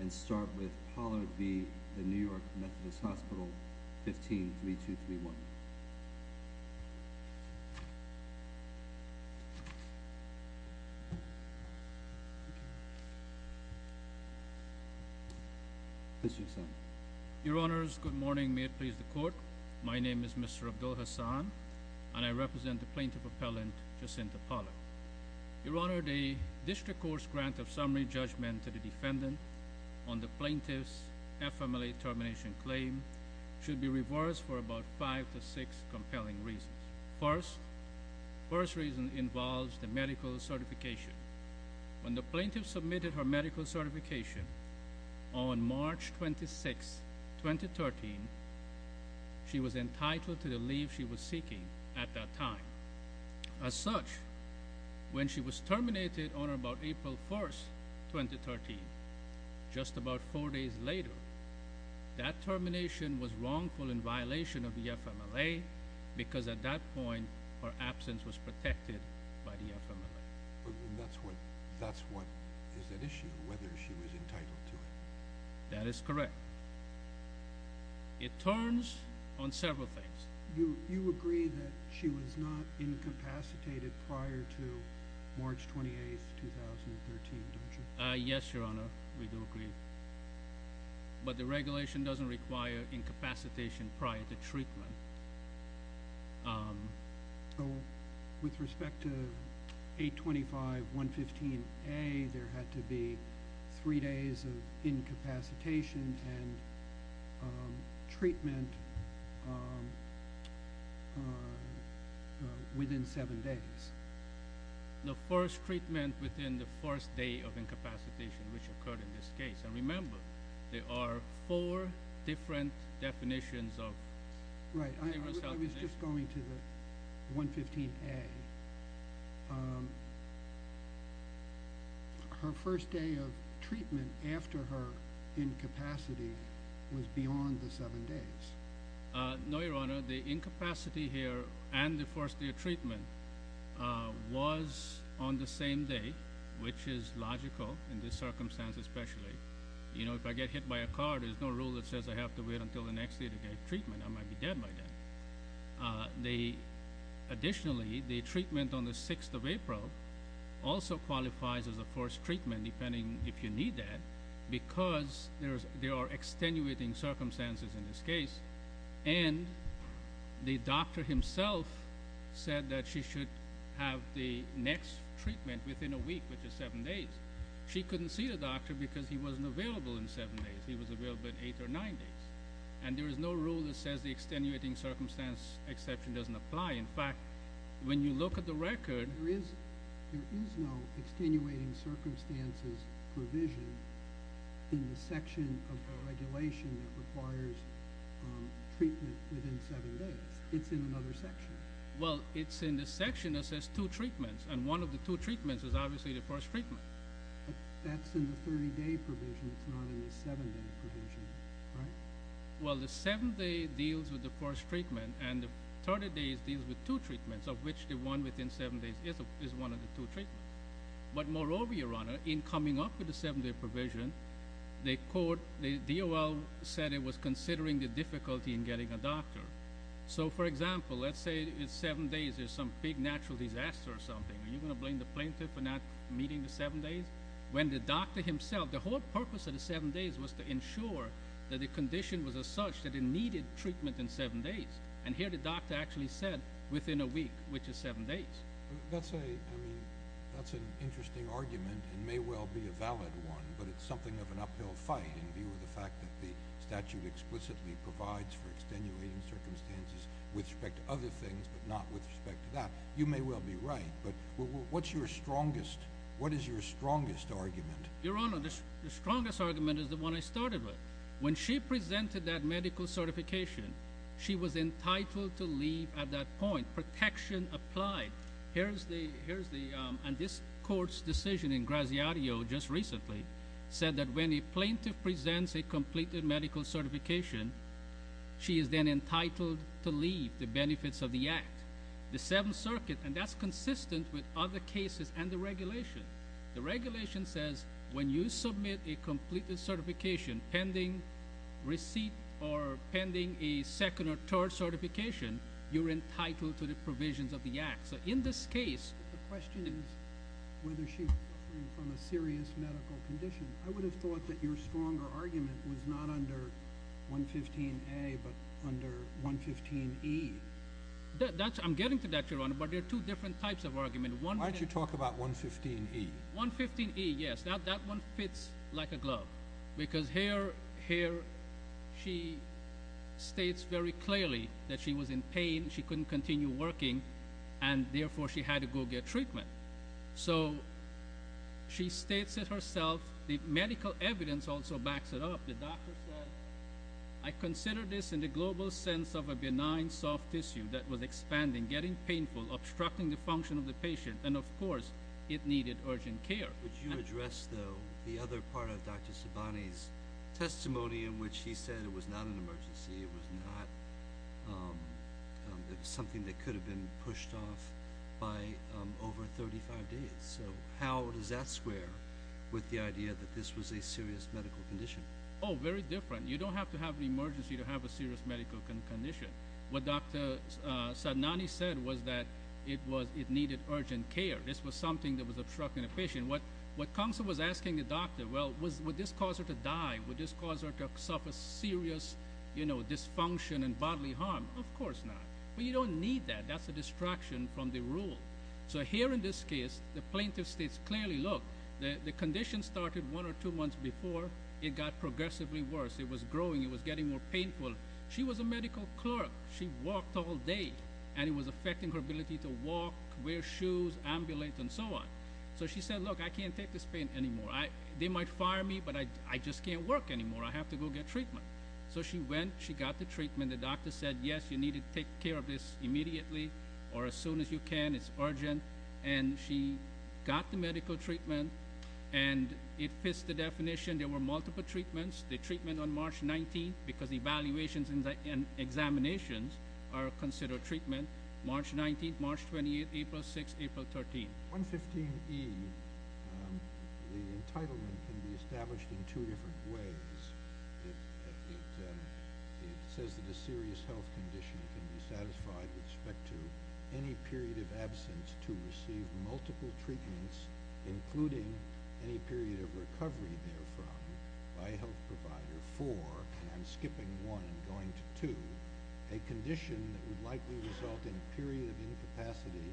And start with Pollard v. The New York Methodist Hospital, 15-3231. Mr. Hassan. Your Honors, good morning. May it please the Court. My name is Mr. Abdul Hassan, and I represent the Plaintiff Appellant Jacinta Pollard. Your Honor, the District Court's grant of summary judgment to the defendant on the plaintiff's FMLA termination claim should be reversed for about five to six compelling reasons. First, the first reason involves the medical certification. When the plaintiff submitted her medical certification on March 26, 2013, she was entitled to the leave she was seeking at that time. As such, when she was terminated on about April 1, 2013, just about four days later, that termination was wrongful in violation of the FMLA because at that point her absence was protected by the FMLA. That's what is at issue, whether she was entitled to it. That is correct. It turns on several things. You agree that she was not incapacitated prior to March 28, 2013, don't you? Yes, Your Honor, we do agree. But the regulation doesn't require incapacitation prior to treatment. With respect to 825.115A, there had to be three days of incapacitation and treatment within seven days. The first treatment within the first day of incapacitation, which occurred in this case. Remember, there are four different definitions. Right. I was just going to the 115A. Her first day of treatment after her incapacity was beyond the seven days. No, Your Honor, the incapacity here and the first day of treatment was on the same day, which is logical in this circumstance especially. You know, if I get hit by a car, there's no rule that says I have to wait until the next day to get treatment. I might be dead by then. Additionally, the treatment on the 6th of April also qualifies as a first treatment, depending if you need that, because there are extenuating circumstances in this case. And the doctor himself said that she should have the next treatment within a week, which is seven days. She couldn't see the doctor because he wasn't available in seven days. He was available in eight or nine days. And there is no rule that says the extenuating circumstance exception doesn't apply. In fact, when you look at the record, there is no extenuating circumstances provision in the section of the regulation that requires treatment within seven days. It's in another section. Well, it's in the section that says two treatments. And one of the two treatments is obviously the first treatment. But that's in the 30-day provision. It's not in the seven-day provision, right? Well, the seven-day deals with the first treatment, and the 30 days deals with two treatments, of which the one within seven days is one of the two treatments. But moreover, Your Honor, in coming up with the seven-day provision, the DOL said it was considering the difficulty in getting a doctor. So, for example, let's say in seven days there's some big natural disaster or something. Are you going to blame the plaintiff for not meeting the seven days? The whole purpose of the seven days was to ensure that the condition was such that it needed treatment in seven days. And here the doctor actually said within a week, which is seven days. That's an interesting argument. It may well be a valid one, but it's something of an uphill fight in view of the fact that the statute explicitly provides for extenuating circumstances with respect to other things but not with respect to that. You may well be right. But what's your strongest—what is your strongest argument? Your Honor, the strongest argument is the one I started with. When she presented that medical certification, she was entitled to leave at that point. Protection applied. Here's the—and this court's decision in Graziadio just recently said that when a plaintiff presents a completed medical certification, she is then entitled to leave the benefits of the act. The Seventh Circuit—and that's consistent with other cases and the regulation. The regulation says when you submit a completed certification pending receipt or pending a second or third certification, you're entitled to the provisions of the act. So in this case— The question is whether she's suffering from a serious medical condition. I would have thought that your stronger argument was not under 115A but under 115E. I'm getting to that, Your Honor, but there are two different types of argument. Why don't you talk about 115E? 115E, yes. That one fits like a glove because here she states very clearly that she was in pain. She couldn't continue working, and therefore she had to go get treatment. So she states it herself. The medical evidence also backs it up. The doctor said, I consider this in the global sense of a benign soft tissue that was expanding, getting painful, obstructing the function of the patient, and, of course, it needed urgent care. Would you address, though, the other part of Dr. Sabani's testimony in which he said it was not an emergency, it was not something that could have been pushed off by over 35 days? So how does that square with the idea that this was a serious medical condition? Oh, very different. You don't have to have an emergency to have a serious medical condition. What Dr. Sabani said was that it needed urgent care. This was something that was obstructing the patient. What Council was asking the doctor, well, would this cause her to die? Would this cause her to suffer serious dysfunction and bodily harm? Of course not. But you don't need that. That's a distraction from the rule. So here in this case, the plaintiff states clearly, look, the condition started one or two months before. It got progressively worse. It was growing. It was getting more painful. She was a medical clerk. She walked all day, and it was affecting her ability to walk, wear shoes, ambulate, and so on. So she said, look, I can't take this pain anymore. They might fire me, but I just can't work anymore. I have to go get treatment. So she went. She got the treatment. The doctor said, yes, you need to take care of this immediately or as soon as you can. It's urgent. And she got the medical treatment, and it fits the definition. There were multiple treatments. The treatment on March 19th, because evaluations and examinations are considered treatment, March 19th, March 28th, April 6th, April 13th. 115E, the entitlement can be established in two different ways. It says that a serious health condition can be satisfied with respect to any period of absence to receive multiple treatments, including any period of recovery therefrom by a health provider for, and I'm skipping one and going to two, a condition that would likely result in a period of incapacity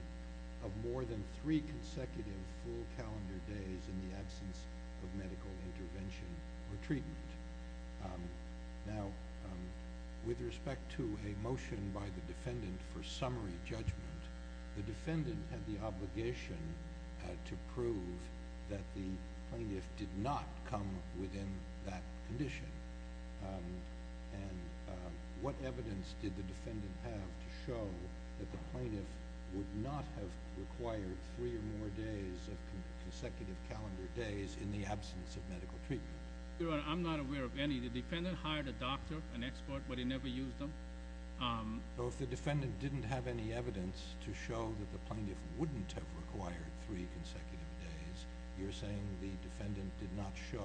of more than three consecutive full calendar days in the absence of medical intervention or treatment. Now, with respect to a motion by the defendant for summary judgment, the defendant had the obligation to prove that the plaintiff did not come within that condition. And what evidence did the defendant have to show that the plaintiff would not have required three or more days of consecutive calendar days in the absence of medical treatment? Your Honor, I'm not aware of any. The defendant hired a doctor, an expert, but he never used them. So if the defendant didn't have any evidence to show that the plaintiff wouldn't have required three consecutive days, you're saying the defendant did not show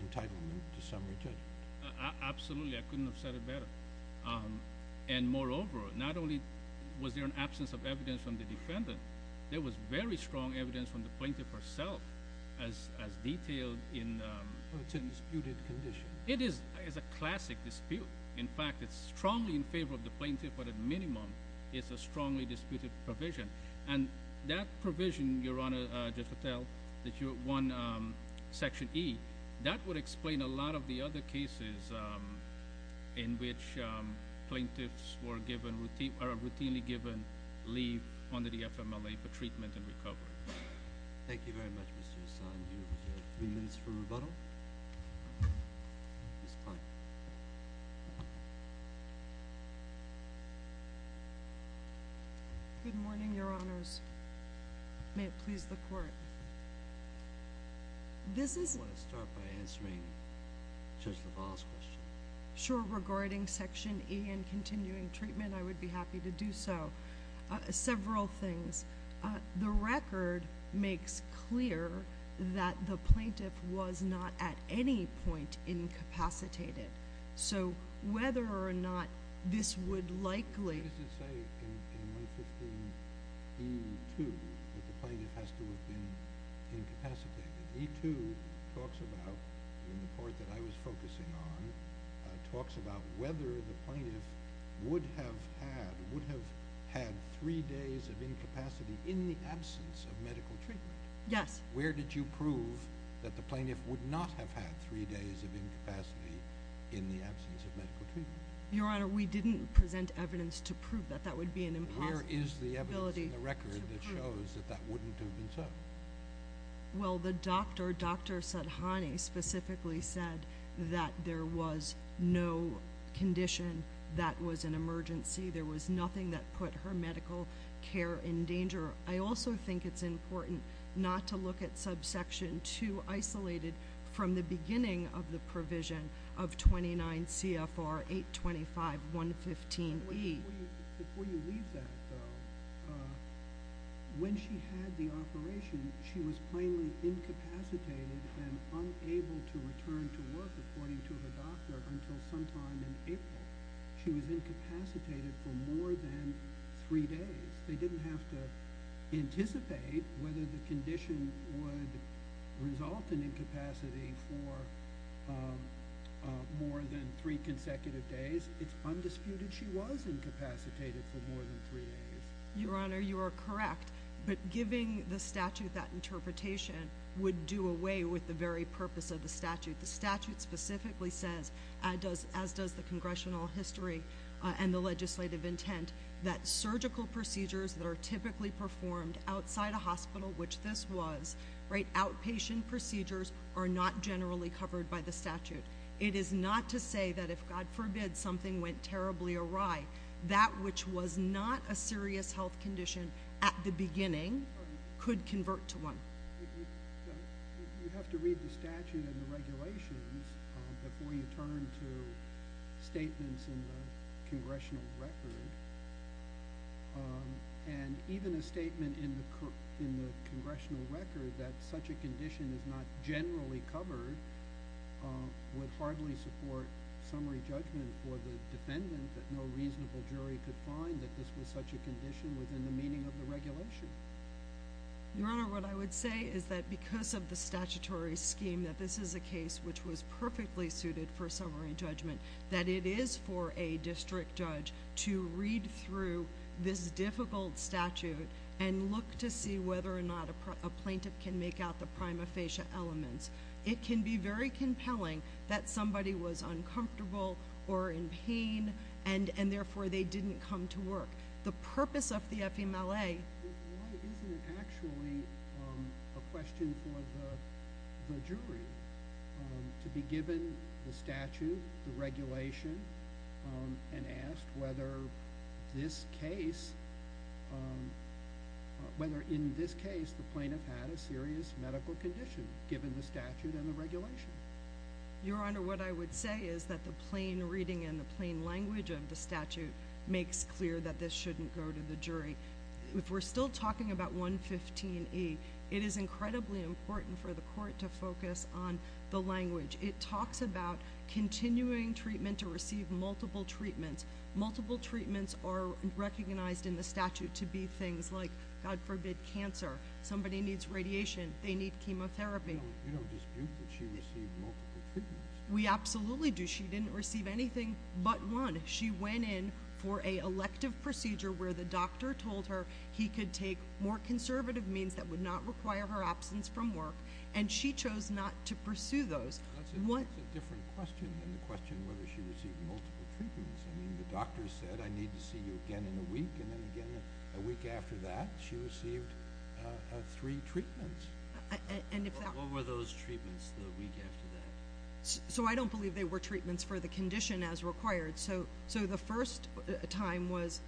entitlement to summary judgment? Absolutely. I couldn't have said it better. And moreover, not only was there an absence of evidence from the defendant, there was very strong evidence from the plaintiff herself as detailed in the… It's in disputed condition. It is a classic dispute. In fact, it's strongly in favor of the plaintiff, but at minimum, it's a strongly disputed provision. And that provision, Your Honor, just to tell that you want Section E, that would explain a lot of the other cases in which plaintiffs are routinely given leave under the FMLA for treatment and recovery. Thank you very much, Mr. Hassan. Good morning, Your Honors. May it please the Court. I want to start by answering Judge LaValle's question. Sure. Regarding Section E and continuing treatment, I would be happy to do so. Several things. The record makes clear that the plaintiff was not at any point incapacitated. So whether or not this would likely… What does it say in 115E2 that the plaintiff has to have been incapacitated? E2 talks about, in the report that I was focusing on, talks about whether the plaintiff would have had three days of incapacity in the absence of medical treatment. Yes. Where did you prove that the plaintiff would not have had three days of incapacity in the absence of medical treatment? Your Honor, we didn't present evidence to prove that. That would be an impossible ability to prove. Where is the evidence in the record that shows that that wouldn't have been so? Well, the doctor, Dr. Sathani, specifically said that there was no condition that was an emergency. There was nothing that put her medical care in danger. I also think it's important not to look at subsection 2, isolated from the beginning of the provision of 29 CFR 825.115E. Before you leave that, though, when she had the operation, she was plainly incapacitated and unable to return to work, according to her doctor, until sometime in April. She was incapacitated for more than three days. They didn't have to anticipate whether the condition would result in incapacity for more than three consecutive days. It's undisputed she was incapacitated for more than three days. Your Honor, you are correct, but giving the statute that interpretation would do away with the very purpose of the statute. The statute specifically says, as does the congressional history and the legislative intent, that surgical procedures that are typically performed outside a hospital, which this was, right, outpatient procedures, are not generally covered by the statute. It is not to say that if, God forbid, something went terribly awry, that which was not a serious health condition at the beginning could convert to one. You have to read the statute and the regulations before you turn to statements in the congressional record. And even a statement in the congressional record that such a condition is not generally covered would hardly support summary judgment for the defendant that no reasonable jury could find that this was such a condition within the meaning of the regulation. Your Honor, what I would say is that because of the statutory scheme that this is a case which was perfectly suited for summary judgment, that it is for a district judge to read through this difficult statute and look to see whether or not a plaintiff can make out the prima facie elements. It can be very compelling that somebody was uncomfortable or in pain and therefore they didn't come to work. Why isn't it actually a question for the jury to be given the statute, the regulation, and asked whether in this case the plaintiff had a serious medical condition, given the statute and the regulation? Your Honor, what I would say is that the plain reading and the plain language of the statute makes clear that this shouldn't go to the jury. If we're still talking about 115E, it is incredibly important for the court to focus on the language. It talks about continuing treatment to receive multiple treatments. Multiple treatments are recognized in the statute to be things like, God forbid, cancer. Somebody needs radiation, they need chemotherapy. You don't dispute that she received multiple treatments. We absolutely do. She didn't receive anything but one. She went in for an elective procedure where the doctor told her he could take more conservative means that would not require her absence from work, and she chose not to pursue those. That's a different question than the question whether she received multiple treatments. I mean, the doctor said, I need to see you again in a week, and then again a week after that, she received three treatments. What were those treatments the week after that? So I don't believe they were treatments for the condition as required. So the first time was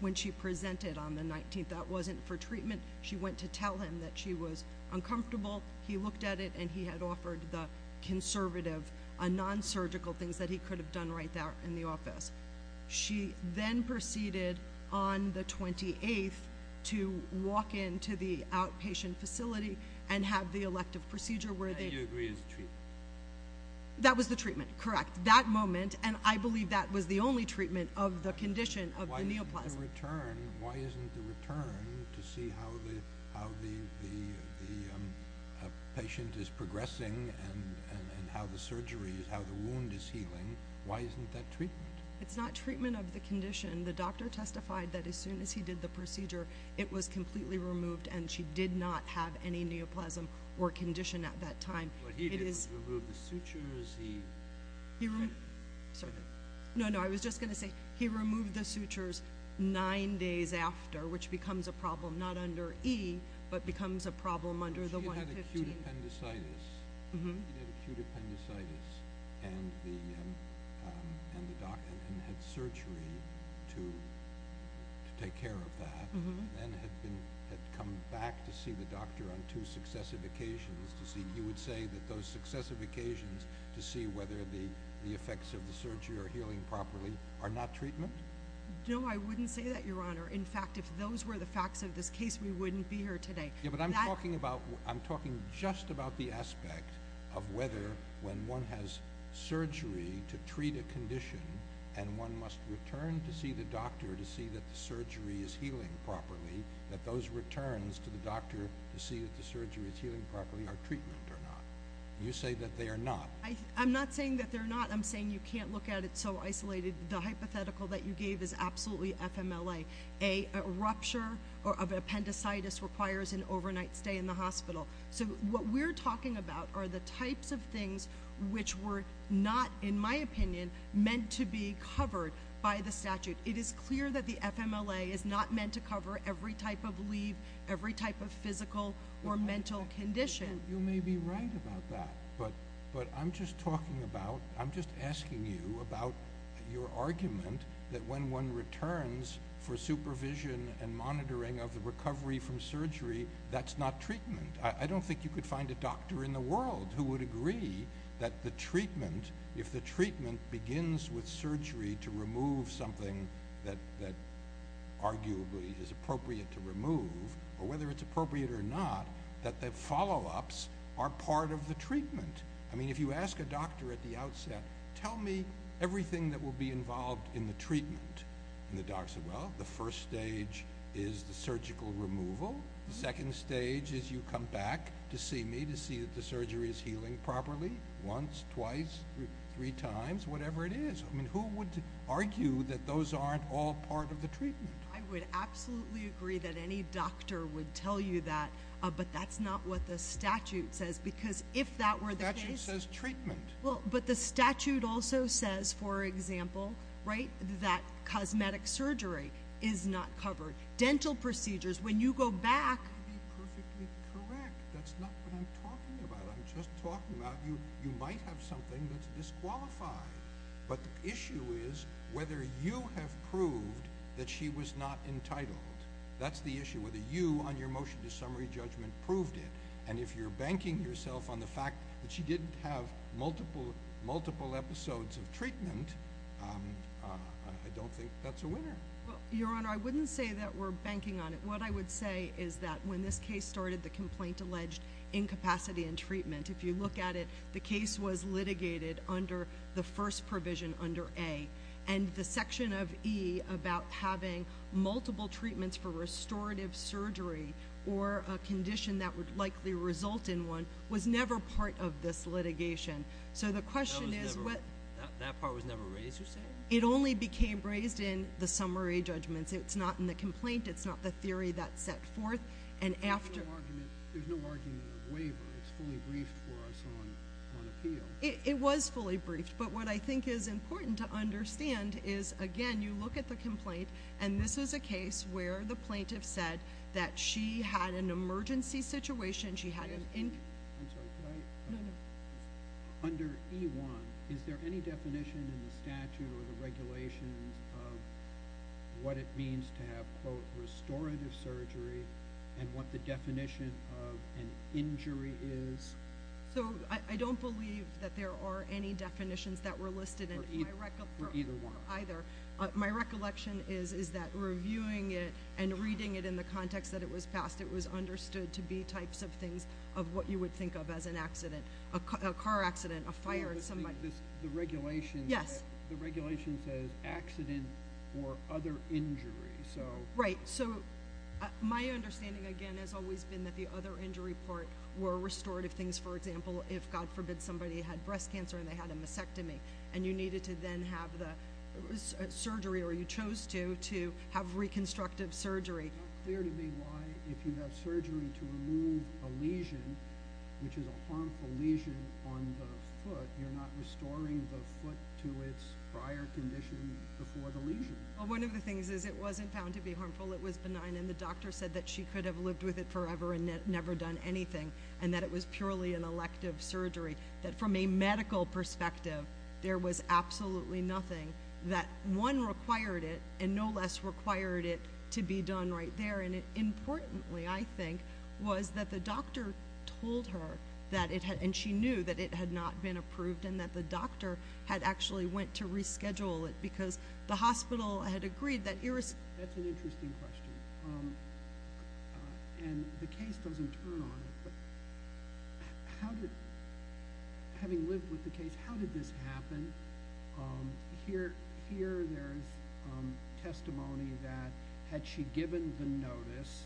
when she presented on the 19th. That wasn't for treatment. She went to tell him that she was uncomfortable. He looked at it, and he had offered the conservative, non-surgical things that he could have done right there in the office. She then proceeded on the 28th to walk into the outpatient facility and have the elective procedure where they... And you agree it was treatment. That was the treatment, correct. That moment, and I believe that was the only treatment of the condition of the neoplasm. Why isn't the return to see how the patient is progressing and how the wound is healing, why isn't that treatment? It's not treatment of the condition. The doctor testified that as soon as he did the procedure, it was completely removed, and she did not have any neoplasm or condition at that time. But he didn't remove the sutures, he... No, no, I was just going to say he removed the sutures nine days after, which becomes a problem not under E, but becomes a problem under the 115. He had acute appendicitis, and had surgery to take care of that, and had come back to see the doctor on two successive occasions to see... He would say that those successive occasions to see whether the effects of the surgery are healing properly are not treatment? No, I wouldn't say that, Your Honor. In fact, if those were the facts of this case, we wouldn't be here today. Yeah, but I'm talking just about the aspect of whether when one has surgery to treat a condition, and one must return to see the doctor to see that the surgery is healing properly, that those returns to the doctor to see that the surgery is healing properly are treatment or not. You say that they are not. I'm not saying that they're not. I'm saying you can't look at it so isolated. The hypothetical that you gave is absolutely FMLA. A rupture of appendicitis requires an overnight stay in the hospital. So what we're talking about are the types of things which were not, in my opinion, meant to be covered by the statute. It is clear that the FMLA is not meant to cover every type of leave, every type of physical or mental condition. You may be right about that, but I'm just talking about, I'm just asking you about your argument that when one returns for supervision and monitoring of the recovery from surgery, that's not treatment. I don't think you could find a doctor in the world who would agree that the treatment, if the treatment begins with surgery to remove something that arguably is appropriate to remove, or whether it's appropriate or not, that the follow-ups are part of the treatment. I mean, if you ask a doctor at the outset, tell me everything that will be involved in the treatment. And the doctor said, well, the first stage is the surgical removal. The second stage is you come back to see me to see that the surgery is healing properly once, twice, three times, whatever it is. I mean, who would argue that those aren't all part of the treatment? I would absolutely agree that any doctor would tell you that, but that's not what the statute says, because if that were the case... The statute says treatment. Well, but the statute also says, for example, right, that cosmetic surgery is not covered. Dental procedures, when you go back... That would be perfectly correct. That's not what I'm talking about. I'm just talking about you might have something that's disqualified, but the issue is whether you have proved that she was not entitled. That's the issue, whether you, on your motion to summary judgment, proved it. And if you're banking yourself on the fact that she didn't have multiple episodes of treatment, I don't think that's a winner. Well, Your Honor, I wouldn't say that we're banking on it. What I would say is that when this case started, the complaint alleged incapacity in treatment. If you look at it, the case was litigated under the first provision under A. And the section of E about having multiple treatments for restorative surgery or a condition that would likely result in one was never part of this litigation. So the question is what... That part was never raised, you're saying? It only became raised in the summary judgments. It's not in the complaint. It's not the theory that's set forth. And after... There's no argument or waiver. It's fully briefed for us on appeal. It was fully briefed. But what I think is important to understand is, again, you look at the complaint, and this is a case where the plaintiff said that she had an emergency situation. She had an... I'm sorry. Could I... No, no. Under E1, is there any definition in the statute or the regulations of what it means to have, quote, restorative surgery and what the definition of an injury is? So I don't believe that there are any definitions that were listed in... For either one. ...either. My recollection is that reviewing it and reading it in the context that it was passed, it was understood to be types of things of what you would think of as an accident, a car accident, a fire, somebody... The regulation... Yes. The regulation says accident or other injury, so... Right. So my understanding, again, has always been that the other injury part were restorative things. For example, if, God forbid, somebody had breast cancer and they had a mastectomy, and you needed to then have the surgery, or you chose to, to have reconstructive surgery. It's not clear to me why, if you have surgery to remove a lesion, which is a harmful lesion on the foot, you're not restoring the foot to its prior condition before the lesion. Well, one of the things is it wasn't found to be harmful. It was benign. And the doctor said that she could have lived with it forever and never done anything, and that it was purely an elective surgery. That from a medical perspective, there was absolutely nothing that one required it and no less required it to be done right there. And importantly, I think, was that the doctor told her that it had... And she knew that it had not been approved and that the doctor had actually went to reschedule it because the hospital had agreed that... That's an interesting question. And the case doesn't turn on it, but how did... Having lived with the case, how did this happen? Here there's testimony that had she given the notice,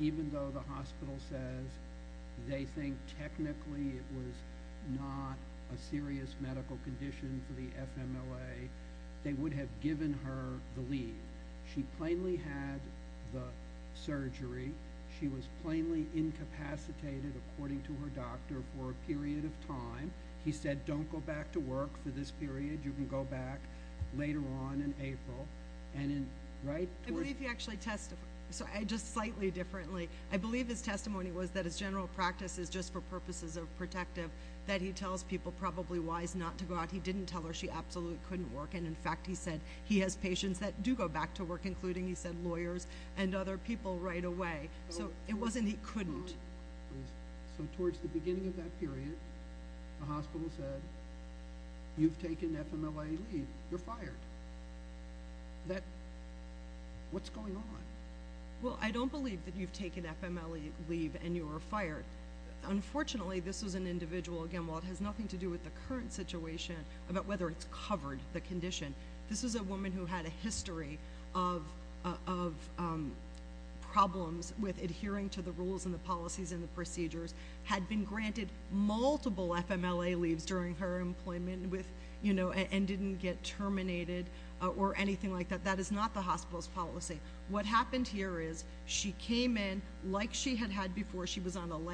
even though the hospital says they think technically it was not a serious medical condition for the FMLA, they would have given her the leave. She plainly had the surgery. She was plainly incapacitated, according to her doctor, for a period of time. He said, don't go back to work for this period. You can go back later on in April. And in... I believe he actually testified... Just slightly differently. I believe his testimony was that his general practice is just for purposes of protective, that he tells people probably wise not to go out. He didn't tell her she absolutely couldn't work. And, in fact, he said he has patients that do go back to work, including, he said, lawyers and other people right away. So it wasn't he couldn't. So towards the beginning of that period, the hospital said, you've taken FMLA leave. You're fired. That... What's going on? Well, I don't believe that you've taken FMLA leave and you were fired. Unfortunately, this was an individual, again, while it has nothing to do with the current situation, about whether it's covered the condition. This was a woman who had a history of problems with adhering to the rules and the policies and the procedures, had been granted multiple FMLA leaves during her employment with, you know, and didn't get terminated or anything like that. That is not the hospital's policy. What happened here is she came in like she had had before. And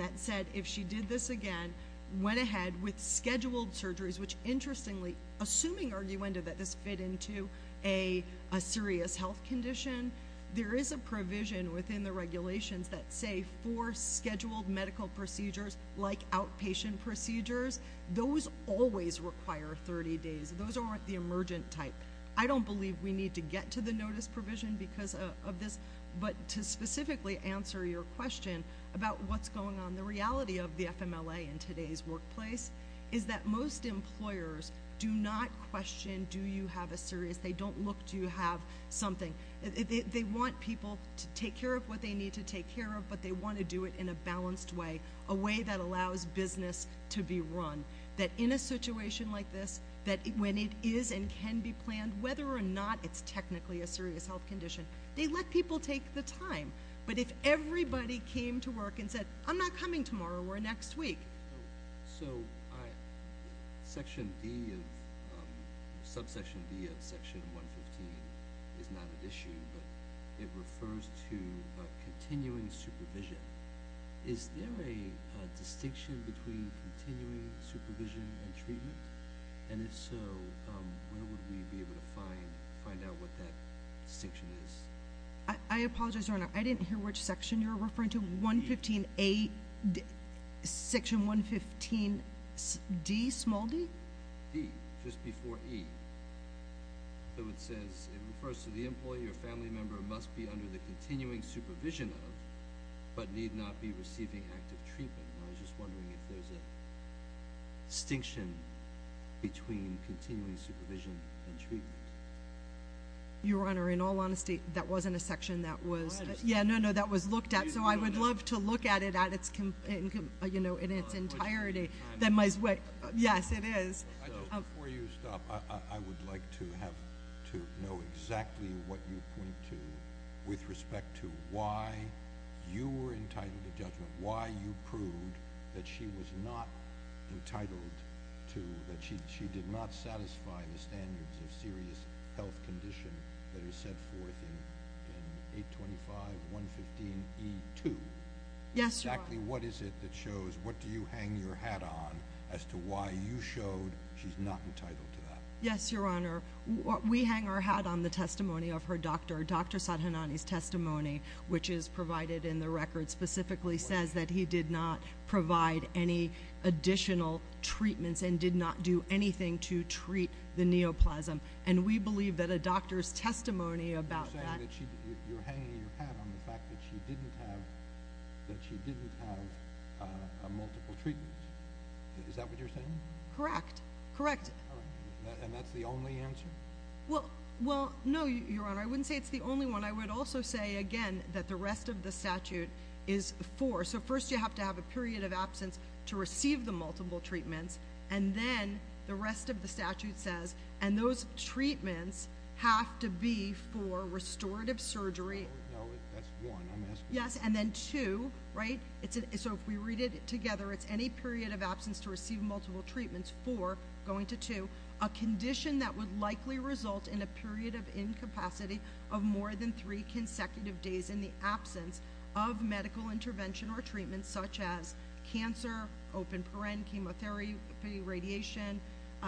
that said, if she did this again, went ahead with scheduled surgeries, which, interestingly, assuming, arguendo, that this fit into a serious health condition, there is a provision within the regulations that say for scheduled medical procedures like outpatient procedures, those always require 30 days. Those aren't the emergent type. I don't believe we need to get to the notice provision because of this. But to specifically answer your question about what's going on, the reality of the FMLA in today's workplace is that most employers do not question do you have a serious, they don't look to have something. They want people to take care of what they need to take care of, but they want to do it in a balanced way, a way that allows business to be run, that in a situation like this, that when it is and can be planned, whether or not it's technically a serious health condition, they let people take the time. But if everybody came to work and said, I'm not coming tomorrow or next week. So section D of, subsection D of section 115 is not an issue, but it refers to continuing supervision. Is there a distinction between continuing supervision and treatment? And if so, where would we be able to find out what that distinction is? I apologize, Your Honor. I didn't hear which section you were referring to. 115A, section 115D, small d? D, just before E. So it says, it refers to the employee or family member must be under the continuing supervision of, but need not be receiving active treatment. And I was just wondering if there's a distinction between continuing supervision and treatment. Your Honor, in all honesty, that wasn't a section that was, yeah, no, no, that was looked at. So I would love to look at it at its, you know, in its entirety. That might, yes, it is. Before you stop, I would like to have to know exactly what you point to with respect to why you were entitled to judgment, why you proved that she was not entitled to, that she did not satisfy the standards of serious health condition that are set forth in 825, 115E2. Yes, Your Honor. Exactly what is it that shows, what do you hang your hat on as to why you showed she's not entitled to that? Yes, Your Honor. We hang our hat on the testimony of her doctor, Dr. Sadhanani's testimony, which is provided in the record specifically says that he did not provide any additional treatments and did not do anything to treat the neoplasm. And we believe that a doctor's testimony about that. You're saying that you're hanging your hat on the fact that she didn't have multiple treatments. Is that what you're saying? Correct. Correct. And that's the only answer? Well, no, Your Honor, I wouldn't say it's the only one. I would also say, again, that the rest of the statute is four. So first you have to have a period of absence to receive the multiple treatments, and then the rest of the statute says, and those treatments have to be for restorative surgery. No, that's one. Yes, and then two, right? So if we read it together, it's any period of absence to receive multiple treatments, four going to two, a condition that would likely result in a period of incapacity of more than three consecutive days in the absence of medical intervention or treatment such as cancer, open paren, chemotherapy, radiation,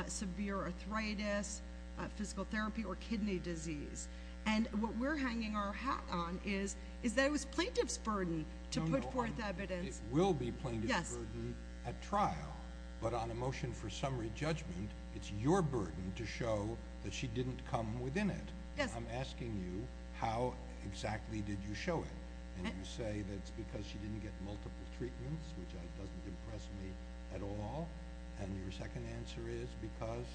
severe arthritis, physical therapy, or kidney disease. And what we're hanging our hat on is that it was plaintiff's burden to put forth evidence. It will be plaintiff's burden at trial. But on a motion for summary judgment, it's your burden to show that she didn't come within it. Yes. I'm asking you, how exactly did you show it? And you say that it's because she didn't get multiple treatments, which doesn't impress me at all. And your second answer is because?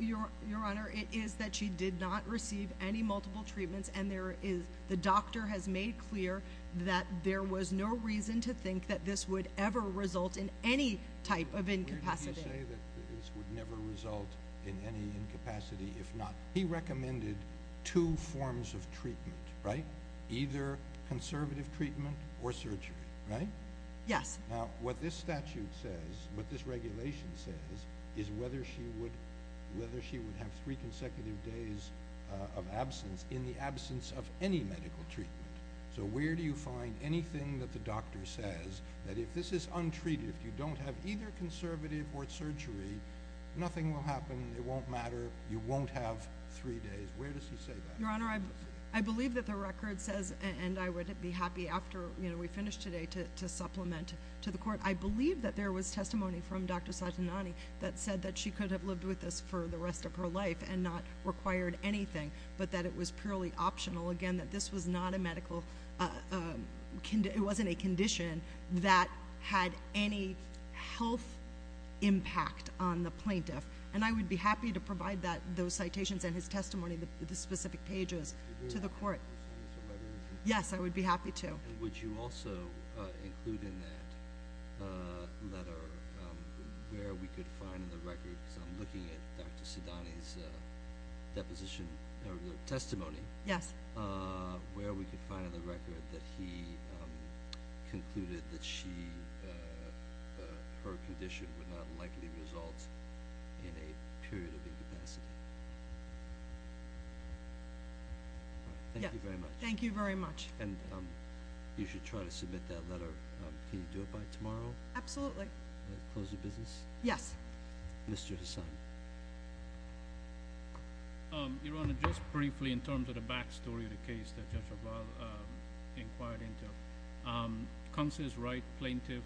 Your Honor, it is that she did not receive any multiple treatments, and the doctor has made clear that there was no reason to think that this would ever result in any type of incapacity. Where did you say that this would never result in any incapacity if not? He recommended two forms of treatment, right? Either conservative treatment or surgery, right? Yes. Now, what this statute says, what this regulation says, is whether she would have three consecutive days of absence in the absence of any medical treatment. So where do you find anything that the doctor says that if this is untreated, if you don't have either conservative or surgery, nothing will happen, it won't matter, you won't have three days? Where does he say that? Your Honor, I believe that the record says, and I would be happy after we finish today to supplement to the court, I believe that there was testimony from Dr. Satinani that said that she could have lived with this for the rest of her life and not required anything, but that it was purely optional, again, that this was not a medical, it wasn't a condition that had any health impact on the plaintiff. And I would be happy to provide those citations and his testimony, the specific pages, to the court. Do you want to include this in the letter? Yes, I would be happy to. And would you also include in that letter where we could find in the record, because I'm looking at Dr. Satinani's deposition or testimony, where we could find in the record that he concluded that her condition would not likely result in a period of incapacity? Thank you very much. Thank you very much. And you should try to submit that letter. Can you do it by tomorrow? Absolutely. Close the business? Yes. Mr. Hassan. Your Honor, just briefly in terms of the back story of the case that Judge Raval inquired into, Counsel's right plaintiff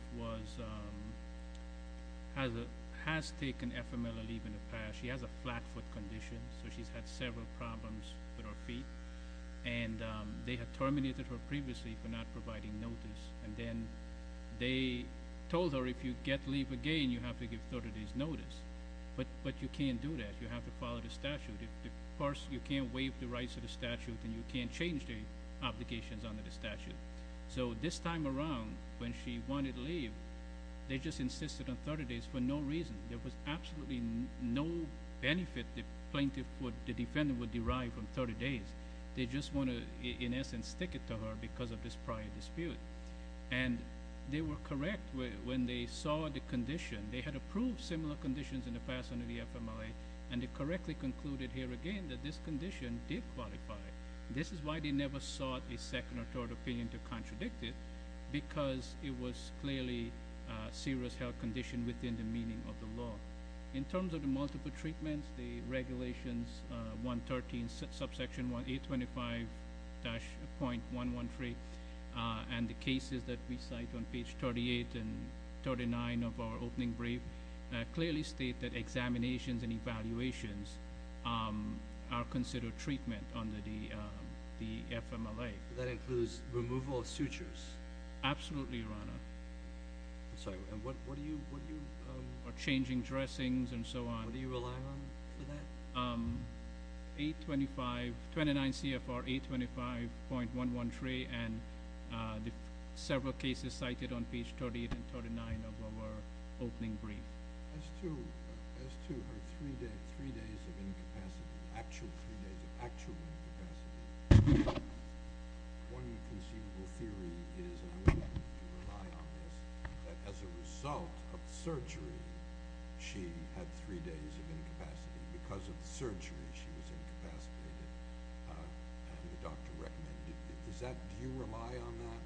has taken FMLA leave in the past. She has a flat foot condition, so she's had several problems with her feet. And they had terminated her previously for not providing notice. And then they told her if you get leave again, you have to give 30 days notice. But you can't do that. You have to follow the statute. You can't waive the rights of the statute, and you can't change the obligations under the statute. So this time around, when she wanted leave, they just insisted on 30 days for no reason. There was absolutely no benefit the defendant would derive from 30 days. They just want to, in essence, stick it to her because of this prior dispute. And they were correct when they saw the condition. They had approved similar conditions in the past under the FMLA, and they correctly concluded here again that this condition did qualify. This is why they never sought a second or third opinion to contradict it, because it was clearly a serious health condition within the meaning of the law. In terms of the multiple treatments, the Regulations 113, subsection 825-.113, and the cases that we cite on page 38 and 39 of our opening brief, clearly state that examinations and evaluations are considered treatment under the FMLA. That includes removal of sutures? Absolutely, Your Honor. I'm sorry. And what do you— Or changing dressings and so on. What are you relying on for that? 825—29 CFR 825.113 and the several cases cited on page 38 and 39 of our opening brief. As to her 3 days of incapacity, actual 3 days of actual incapacity, one conceivable theory is—and I want you to rely on this— that as a result of surgery, she had 3 days of incapacity. Because of surgery, she was incapacitated. And the doctor recommended it. Does that—do you rely on that?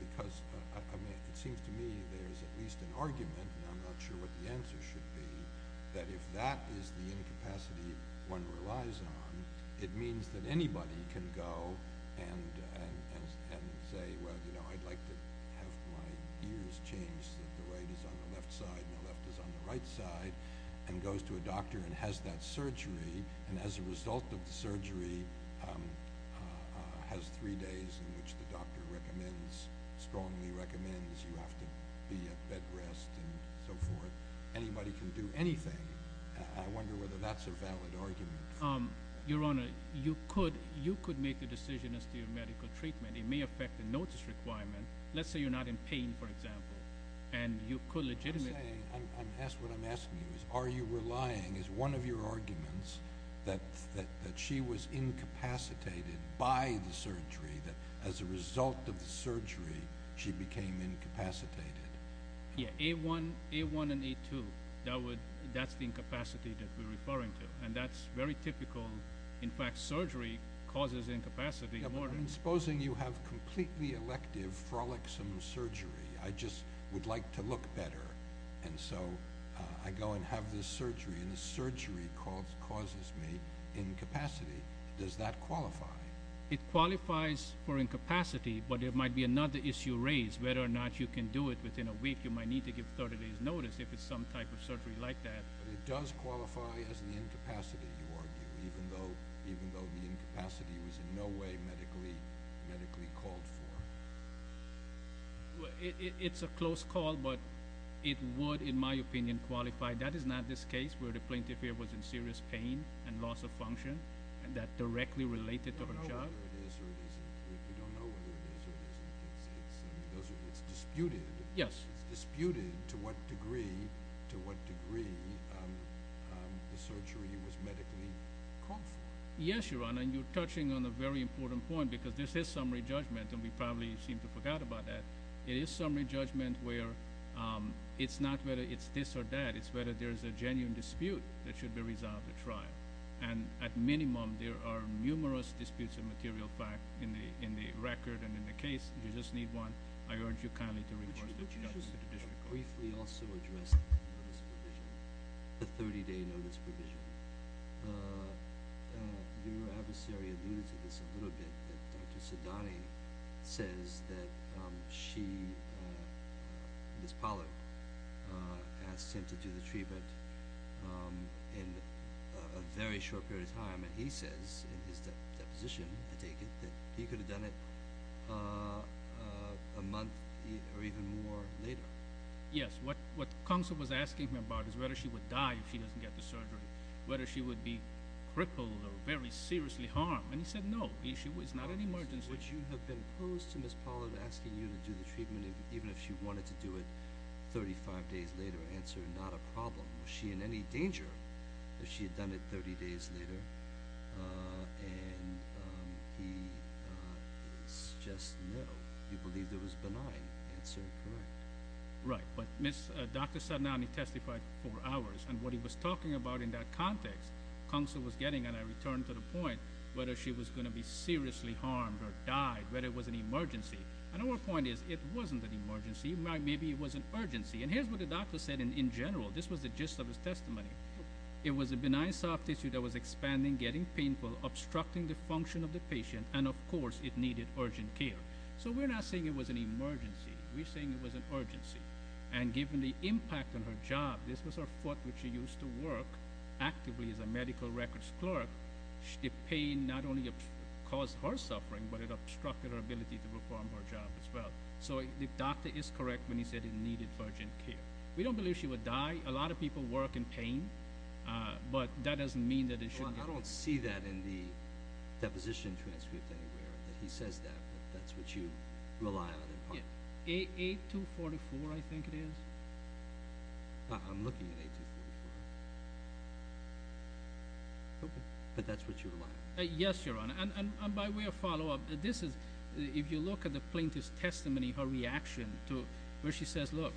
Because, I mean, it seems to me there's at least an argument, and I'm not sure what the answer should be, that if that is the incapacity one relies on, it means that anybody can go and say, well, you know, I'd like to have my ears changed so that the right is on the left side and the left is on the right side, and goes to a doctor and has that surgery, and as a result of the surgery has 3 days in which the doctor recommends, strongly recommends you have to be at bed rest and so forth. Anybody can do anything. I wonder whether that's a valid argument. Your Honor, you could make a decision as to your medical treatment. It may affect the notice requirement. Let's say you're not in pain, for example, and you could legitimately— I'm saying—what I'm asking you is are you relying, as one of your arguments, that she was incapacitated by the surgery, that as a result of the surgery she became incapacitated? Yeah, A1 and A2, that's the incapacity that we're referring to, and that's very typical. In fact, surgery causes incapacity more. Yeah, but supposing you have completely elective frolicsome surgery. I just would like to look better, and so I go and have this surgery, and the surgery causes me incapacity. Does that qualify? It qualifies for incapacity, but there might be another issue raised, whether or not you can do it within a week. You might need to give 30 days' notice if it's some type of surgery like that. But it does qualify as the incapacity, you argue, even though the incapacity was in no way medically called for. It's a close call, but it would, in my opinion, qualify. That is not this case where the plaintiff here was in serious pain and loss of function, and that directly related to her job. We don't know whether it is or it isn't. It's disputed. Yes. It's disputed to what degree the surgery was medically called for. Yes, Your Honor, and you're touching on a very important point, because this is summary judgment, and we probably seem to have forgot about that. It is summary judgment where it's not whether it's this or that. It's whether there's a genuine dispute that should be resolved at trial. At minimum, there are numerous disputes of material fact in the record and in the case, you just need one. I urge you kindly to report that to the district court. Would you briefly also address the notice provision, the 30-day notice provision? Your adversary alluded to this a little bit, that Dr. Sidani says that she, Ms. Pollard, asks him to do the treatment in a very short period of time, and he says in his deposition, I take it, that he could have done it a month or even more later. Yes. What Counsel was asking him about is whether she would die if she doesn't get the surgery, whether she would be crippled or very seriously harmed, and he said no. It's not an emergency. Would you have been opposed to Ms. Pollard asking you to do the treatment even if she wanted to do it 35 days later? Answer, not a problem. Was she in any danger if she had done it 30 days later? And he is just no. You believe there was benign. Answer, correct. Right, but Dr. Sidani testified for hours, and what he was talking about in that context, Counsel was getting, and I return to the point, whether she was going to be seriously harmed or died, whether it was an emergency. Another point is it wasn't an emergency. Maybe it was an urgency, and here's what the doctor said in general. This was the gist of his testimony. It was a benign soft tissue that was expanding, getting painful, obstructing the function of the patient, and, of course, it needed urgent care. So we're not saying it was an emergency. We're saying it was an urgency. And given the impact on her job, this was her foot which she used to work actively as a medical records clerk. The pain not only caused her suffering, but it obstructed her ability to perform her job as well. So the doctor is correct when he said it needed urgent care. We don't believe she would die. A lot of people work in pain, but that doesn't mean that it shouldn't be. Your Honor, I don't see that in the deposition transcript anywhere, that he says that, but that's what you rely on in part. A-244, I think it is. I'm looking at A-244. Okay. But that's what you rely on. Yes, Your Honor. And by way of follow-up, if you look at the plaintiff's testimony, her reaction to where she says, look,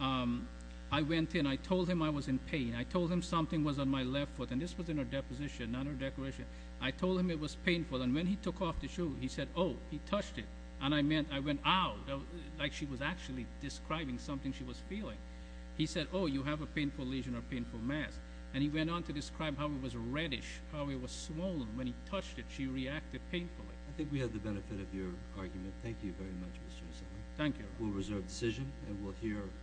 I went in. I told him I was in pain. I told him something was on my left foot. And this was in her deposition, not her declaration. I told him it was painful. And when he took off the shoe, he said, oh, he touched it. And I went, ow, like she was actually describing something she was feeling. He said, oh, you have a painful lesion or painful mass. And he went on to describe how it was reddish, how it was swollen. When he touched it, she reacted painfully. I think we had the benefit of your argument. Thank you very much. Thank you. We'll reserve the decision. And we'll hear.